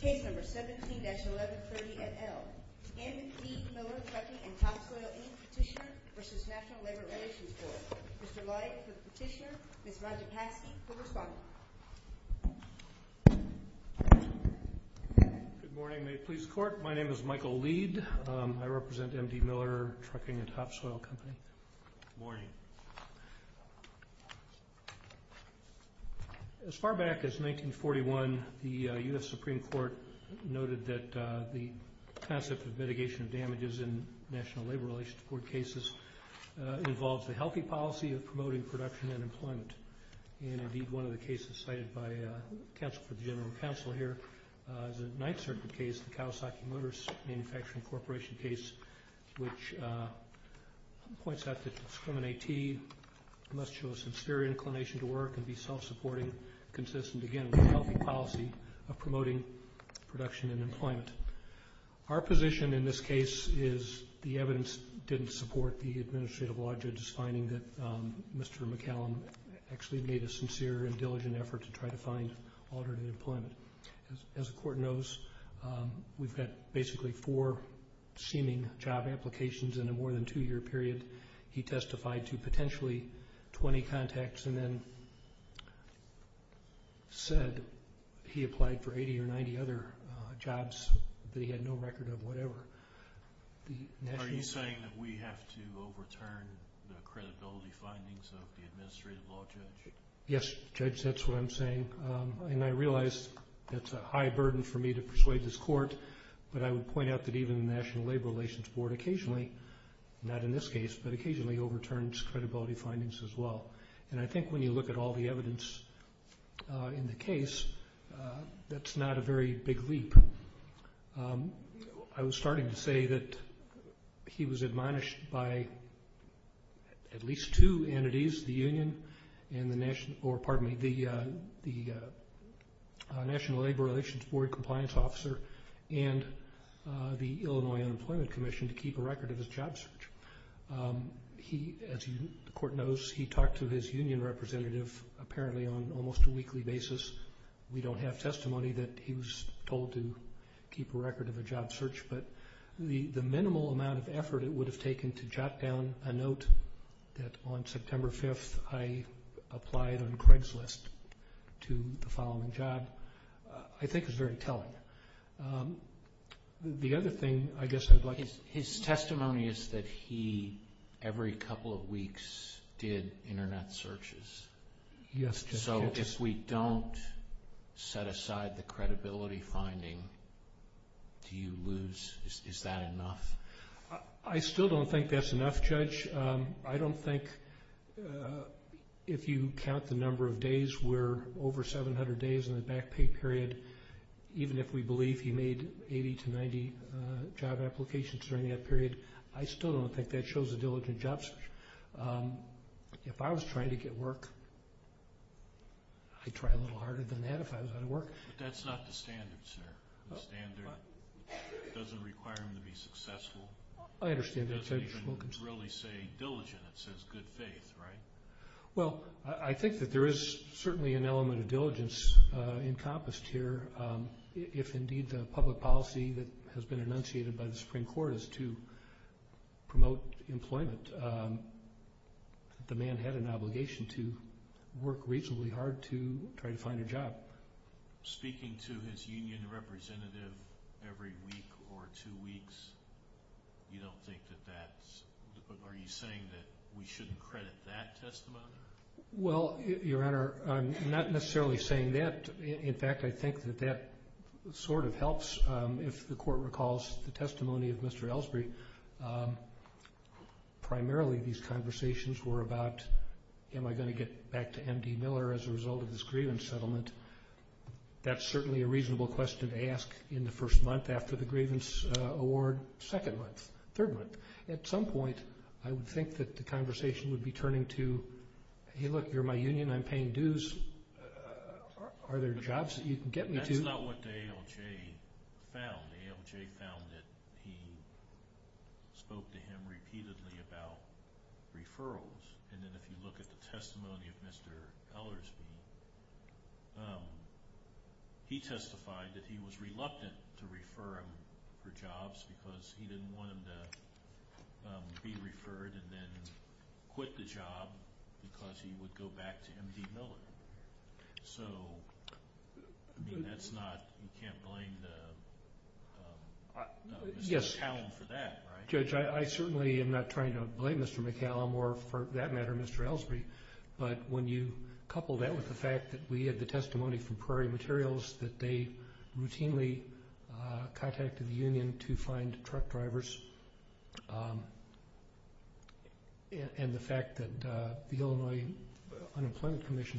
Case No. 17-1130 et al. M.D. Miller Trucking & Topsoil, any Petitioner v. National Labor Relations Board. Mr. Leib for the Petitioner, Ms. Rajapaksi for the Responder. Good morning, May it please the Court. My name is Michael Leid. I represent M.D. Miller Trucking & Topsoil Company. Good morning. As far back as 1941, the U.S. Supreme Court noted that the concept of mitigation of damages in National Labor Relations Board cases involves a healthy policy of promoting production and employment. Indeed, one of the cases cited by counsel for the General Counsel here is a Ninth Circuit case, the Kawasaki Motors Manufacturing Corporation case, which points out that discriminatee must show a sincere inclination to work and be self-supporting consistent, again, with a healthy policy of promoting production and employment. Our position in this case is the evidence didn't support the Administrative Law Judge's finding that Mr. McCallum actually made a sincere and diligent effort to try to find alternative employment. As the Court knows, we've got basically four seeming job applications in a more than two-year period. He testified to potentially 20 contacts and then said he applied for 80 or 90 other jobs that he had no record of, whatever. Are you saying that we have to overturn the credibility findings of the Administrative Law Judge? Yes, Judge, that's what I'm saying. And I realize that's a high burden for me to persuade this Court, but I would point out that even the National Labor Relations Board occasionally, not in this case, but occasionally overturns credibility findings as well. And I think when you look at all the evidence in the case, that's not a very big leap. I was starting to say that he was admonished by at least two entities, the Union and the National Labor Relations Board Compliance Officer and the Illinois Unemployment Commission to keep a record of his job search. As the Court knows, he talked to his union representative apparently on almost a weekly basis. We don't have testimony that he was told to keep a record of a job search, but the minimal amount of effort it would have taken to jot down a note that, on September 5th, I applied on Craigslist to the following job, I think is very telling. His testimony is that he, every couple of weeks, did Internet searches. So if we don't set aside the credibility finding, do you lose? Is that enough? I still don't think that's enough, Judge. I don't think if you count the number of days where over 700 days in the back pay period, even if we believe he made 80 to 90 job applications during that period, I still don't think that shows a diligent job search. If I was trying to get work, I'd try a little harder than that if I was out of work. But that's not the standard, sir. The standard doesn't require him to be successful. It doesn't even really say diligent. It says good faith, right? Well, I think that there is certainly an element of diligence encompassed here. If indeed the public policy that has been enunciated by the Supreme Court is to promote employment, the man had an obligation to work reasonably hard to try to find a job. Your Honor, speaking to his union representative every week or two weeks, you don't think that that's, are you saying that we shouldn't credit that testimony? Well, Your Honor, I'm not necessarily saying that. In fact, I think that that sort of helps if the court recalls the testimony of Mr. Elsberry. Primarily these conversations were about am I going to get back to M.D. Miller as a result of this grievance settlement? That's certainly a reasonable question to ask in the first month after the grievance award, second month, third month. At some point, I would think that the conversation would be turning to, hey look, you're my union, I'm paying dues, are there jobs that you can get me to? That's not what the ALJ found. The ALJ found that he spoke to him repeatedly about referrals. And then if you look at the testimony of Mr. Elsberry, he testified that he was reluctant to refer him for jobs because he didn't want him to be referred and then quit the job because he would go back to M.D. Miller. So that's not, you can't blame Mr. McCallum for that, right? I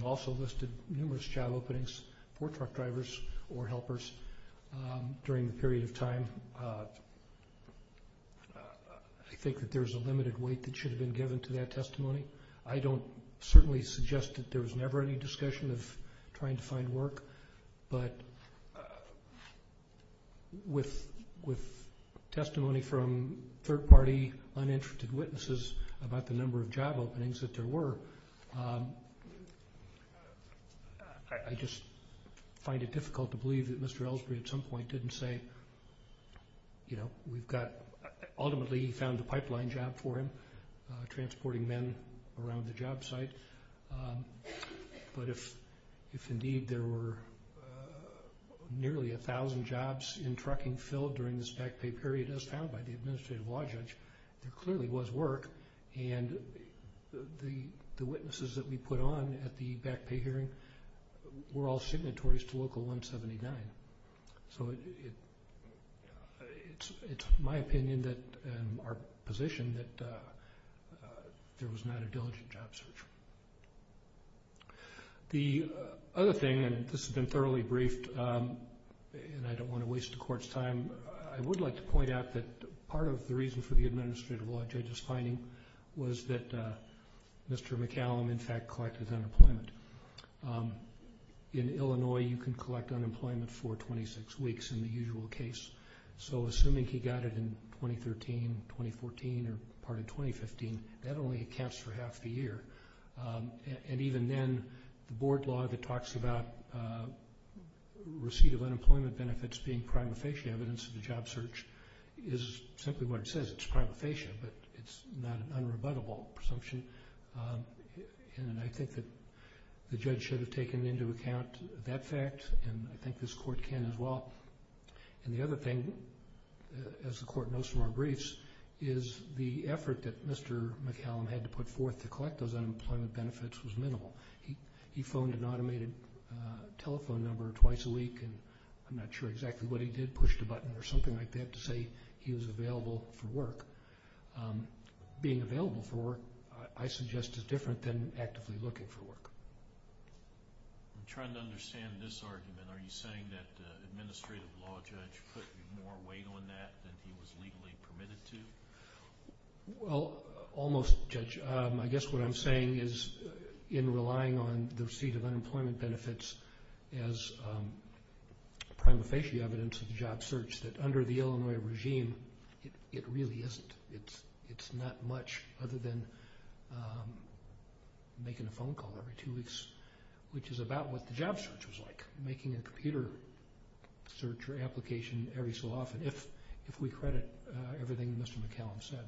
also listed numerous job openings for truck drivers or helpers during the period of time. I think that there's a limited weight that should have been given to that testimony. I don't certainly suggest that there was never any discussion of trying to find work, but with testimony from third party uninterested witnesses about the number of job openings that there were, I just find it difficult to believe that Mr. Elsberry at some point didn't say, you know, we've got, ultimately he found a pipeline job for him, transporting men around the job site. But if indeed there were nearly a thousand jobs in trucking filled during this back pay period as found by the Administrative Law Judge, there clearly was work. And the witnesses that we put on at the back pay hearing were all signatories to Local 179. So it's my opinion and our position that there was not a diligent job search. The other thing, and this has been thoroughly briefed and I don't want to waste the Court's time, I would like to point out that part of the reason for the Administrative Law Judge's finding was that Mr. McCallum in fact collected unemployment. In Illinois you can collect unemployment for 26 weeks in the usual case. So assuming he got it in 2013, 2014, or part of 2015, that only accounts for half the year. And even then, the board law that talks about receipt of unemployment benefits being prima facie evidence of the job search is simply what it says. It's prima facie, but it's not an unrebuttable presumption. And I think that the judge should have taken into account that fact and I think this Court can as well. And the other thing, as the Court knows from our briefs, is the effort that Mr. McCallum had to put forth to collect those unemployment benefits was minimal. He phoned an automated telephone number twice a week and I'm not sure exactly what he did, pushed a button or something like that to say he was available for work. But being available for work, I suggest, is different than actively looking for work. I'm trying to understand this argument. Are you saying that the Administrative Law Judge put more weight on that than he was legally permitted to? Well, almost, Judge. I guess what I'm saying is in relying on the receipt of unemployment benefits as prima facie evidence of the job search, that under the Illinois regime, it really isn't. It's not much other than making a phone call every two weeks, which is about what the job search was like. Making a computer search or application every so often, if we credit everything Mr. McCallum said.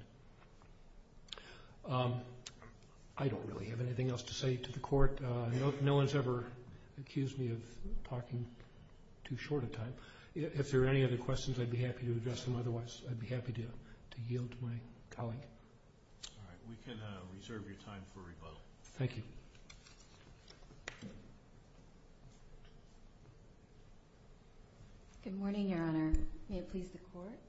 I don't really have anything else to say to the Court. No one's ever accused me of talking too short a time. If there are any other questions, I'd be happy to address them. Otherwise, I'd be happy to yield to my colleague. All right. We can reserve your time for rebuttal. Thank you. Good morning, Your Honor. May it please the Court?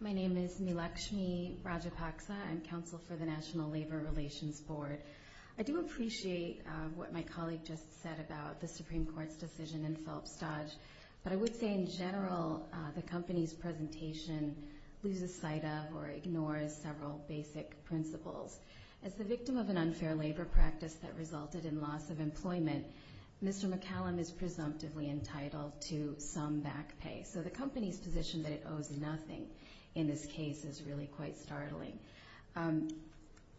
My name is Melekshmi Rajapaksa. I'm Counsel for the National Labor Relations Board. I do appreciate what my colleague just said about the Supreme Court's decision in Phillips-Dodge. But I would say in general, the company's presentation loses sight of or ignores several basic principles. As the victim of an unfair labor practice that resulted in loss of employment, Mr. McCallum is presumptively entitled to some back pay. So the company's position that it owes nothing in this case is really quite startling.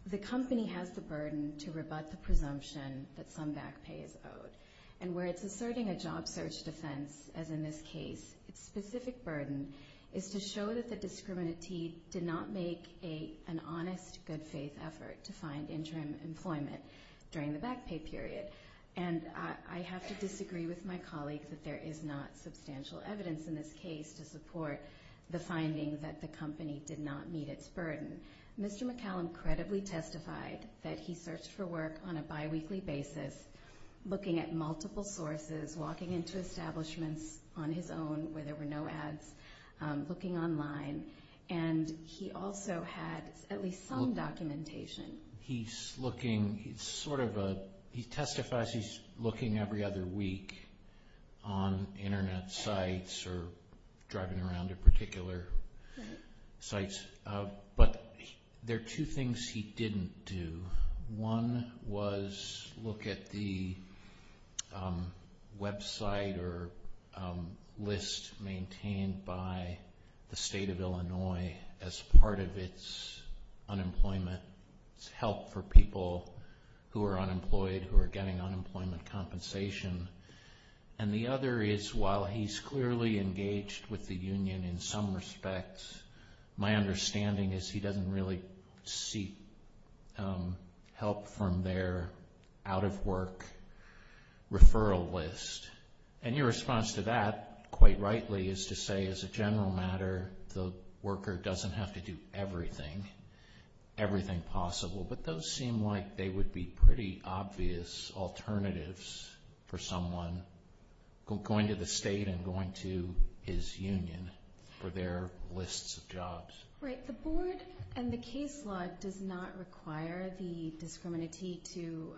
The company has the burden to rebut the presumption that some back pay is owed. And where it's asserting a job search defense, as in this case, its specific burden is to show that the discriminatee did not make an honest, good-faith effort to find interim employment during the back pay period. And I have to disagree with my colleague that there is not substantial evidence in this case to support the finding that the company did not meet its burden. Mr. McCallum credibly testified that he searched for work on a biweekly basis, looking at multiple sources, walking into establishments on his own where there were no ads, looking online. And he also had at least some documentation. He's looking, sort of, he testifies he's looking every other week on Internet sites or driving around at particular sites. But there are two things he didn't do. One was look at the website or list maintained by the state of Illinois as part of its unemployment, its help for people who are unemployed who are getting unemployment compensation. And the other is, while he's clearly engaged with the union in some respects, my understanding is he doesn't really seek help from their out-of-work referral list. And your response to that, quite rightly, is to say, as a general matter, the worker doesn't have to do everything, everything possible. But those seem like they would be pretty obvious alternatives for someone going to the state and going to his union for their lists of jobs. Right. The board and the case law does not require the discriminantee to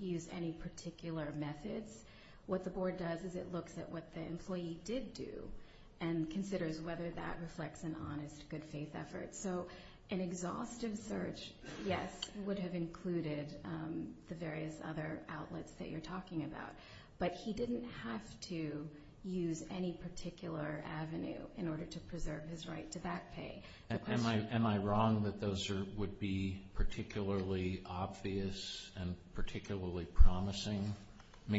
use any particular methods. What the board does is it looks at what the employee did do and considers whether that reflects an honest, good-faith effort. So an exhaustive search, yes, would have included the various other outlets that you're talking about. But he didn't have to use any particular avenue in order to preserve his right to back pay. Am I wrong that those would be particularly obvious and particularly promising?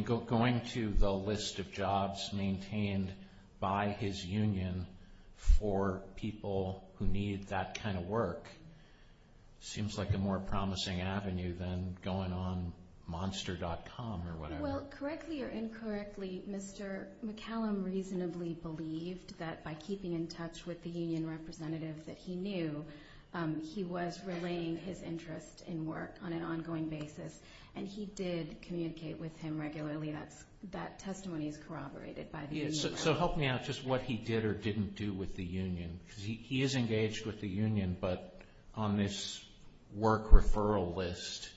Going to the list of jobs maintained by his union for people who need that kind of work seems like a more promising avenue than going on monster.com or whatever. Well, correctly or incorrectly, Mr. McCallum reasonably believed that by keeping in touch with the union representative that he knew, he was relaying his interest in work on an ongoing basis, and he did communicate with him regularly. That testimony is corroborated by the union. So help me out just what he did or didn't do with the union. Because he is engaged with the union, but on this work referral list,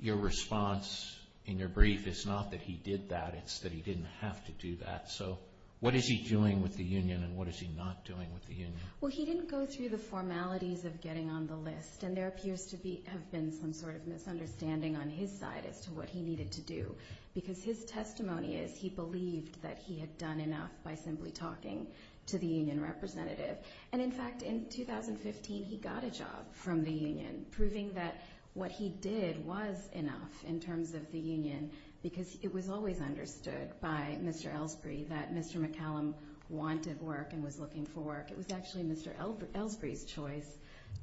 your response in your brief is not that he did that, it's that he didn't have to do that. So what is he doing with the union and what is he not doing with the union? Well, he didn't go through the formalities of getting on the list, and there appears to have been some sort of misunderstanding on his side as to what he needed to do, because his testimony is he believed that he had done enough by simply talking to the union representative. And in fact, in 2015, he got a job from the union, proving that what he did was enough in terms of the union, because it was always understood by Mr. Elsberry that Mr. McCallum wanted work and was looking for work. It was actually Mr. Elsberry's choice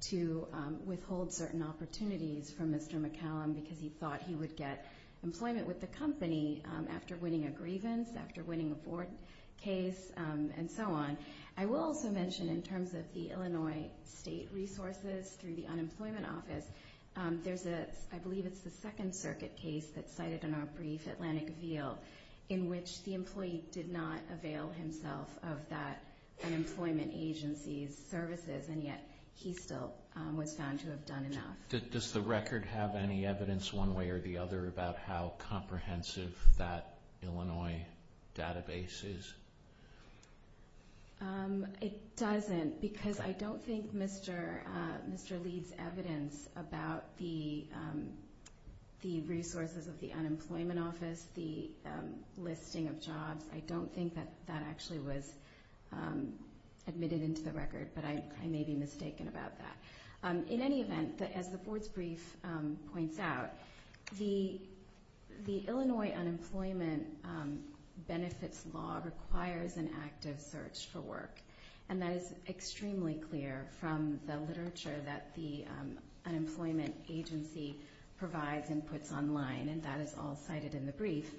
to withhold certain opportunities from Mr. McCallum because he thought he would get employment with the company after winning a grievance, after winning a board case, and so on. I will also mention in terms of the Illinois state resources through the unemployment office, there's a, I believe it's the Second Circuit case that's cited in our brief, Atlantic Veal, in which the employee did not avail himself of that unemployment agency's services, and yet he still was found to have done enough. Does the record have any evidence one way or the other about how comprehensive that Illinois database is? It doesn't, because I don't think Mr. Leeds' evidence about the resources of the unemployment office, the listing of jobs, I don't think that that actually was admitted into the record, but I may be mistaken about that. In any event, as the board's brief points out, the Illinois unemployment benefits law requires an active search for work, and that is extremely clear from the literature that the unemployment agency provides and puts online, and that is all cited in the brief.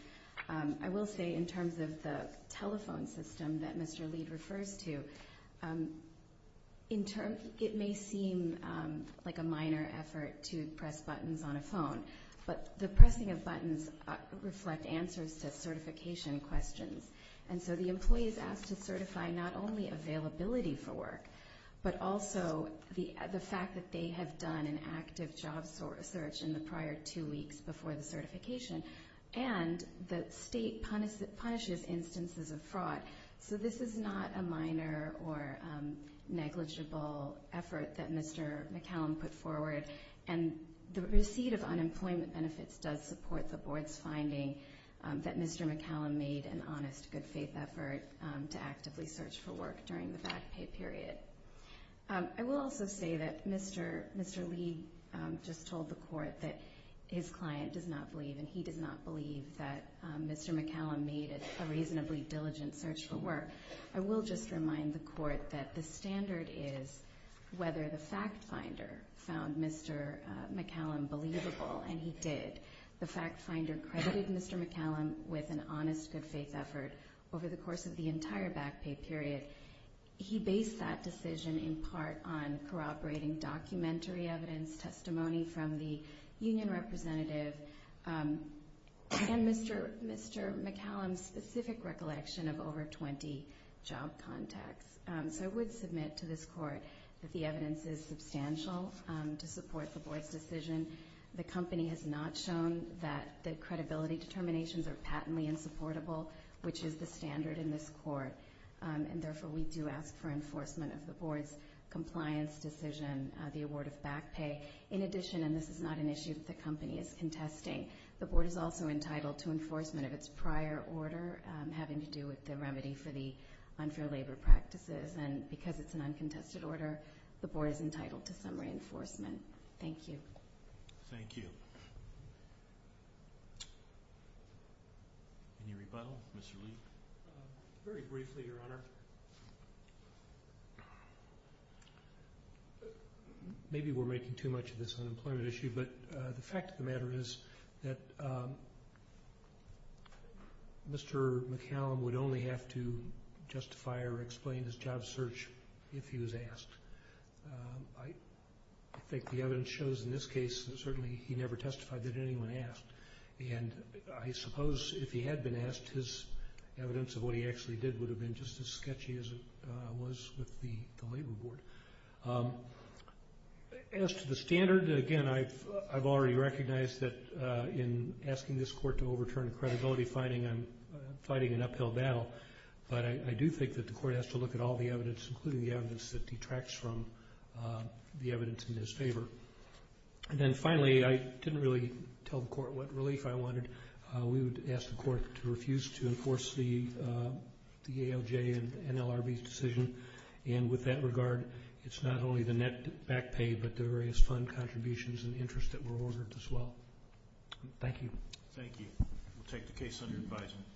I will say in terms of the telephone system that Mr. Leeds refers to, it may seem like a minor effort to press buttons on a phone, but the pressing of buttons reflect answers to certification questions, and so the employee is asked to certify not only availability for work, but also the fact that they have done an active job search in the prior two weeks before the certification, and the state punishes instances of fraud. So this is not a minor or negligible effort that Mr. McCallum put forward, and the receipt of unemployment benefits does support the board's finding that Mr. McCallum made an honest, good-faith effort to actively search for work during the fact pay period. I will also say that Mr. Leeds just told the court that his client does not believe, and he does not believe that Mr. McCallum made a reasonably diligent search for work. I will just remind the court that the standard is whether the fact finder found Mr. McCallum believable, and he did. The fact finder credited Mr. McCallum with an honest, good-faith effort over the course of the entire back pay period. He based that decision in part on corroborating documentary evidence, testimony from the union representative, and Mr. McCallum's specific recollection of over 20 job contacts. So I would submit to this court that the evidence is substantial to support the board's decision. The company has not shown that the credibility determinations are patently insupportable, which is the standard in this court, and therefore we do ask for enforcement of the board's compliance decision, the award of back pay. In addition, and this is not an issue that the company is contesting, the board is also entitled to enforcement of its prior order having to do with the remedy for the unfair labor practices, and because it's an uncontested order, the board is entitled to some reinforcement. Thank you. Thank you. Any rebuttal? Mr. Lee. Very briefly, Your Honor. Maybe we're making too much of this an employment issue, but the fact of the matter is that Mr. McCallum would only have to justify or explain his job search if he was asked. I think the evidence shows in this case that certainly he never testified that anyone asked, and I suppose if he had been asked, his evidence of what he actually did would have been just as sketchy as it was with the labor board. As to the standard, again, I've already recognized that in asking this court to overturn a credibility finding, I'm fighting an uphill battle, but I do think that the court has to look at all the evidence, including the evidence that detracts from the evidence in his favor. And then finally, I didn't really tell the court what relief I wanted. We would ask the court to refuse to enforce the ALJ and NLRB's decision, and with that regard, it's not only the net back pay but the various fund contributions and interest that were ordered as well. Thank you. Thank you. We'll take the case under advisement.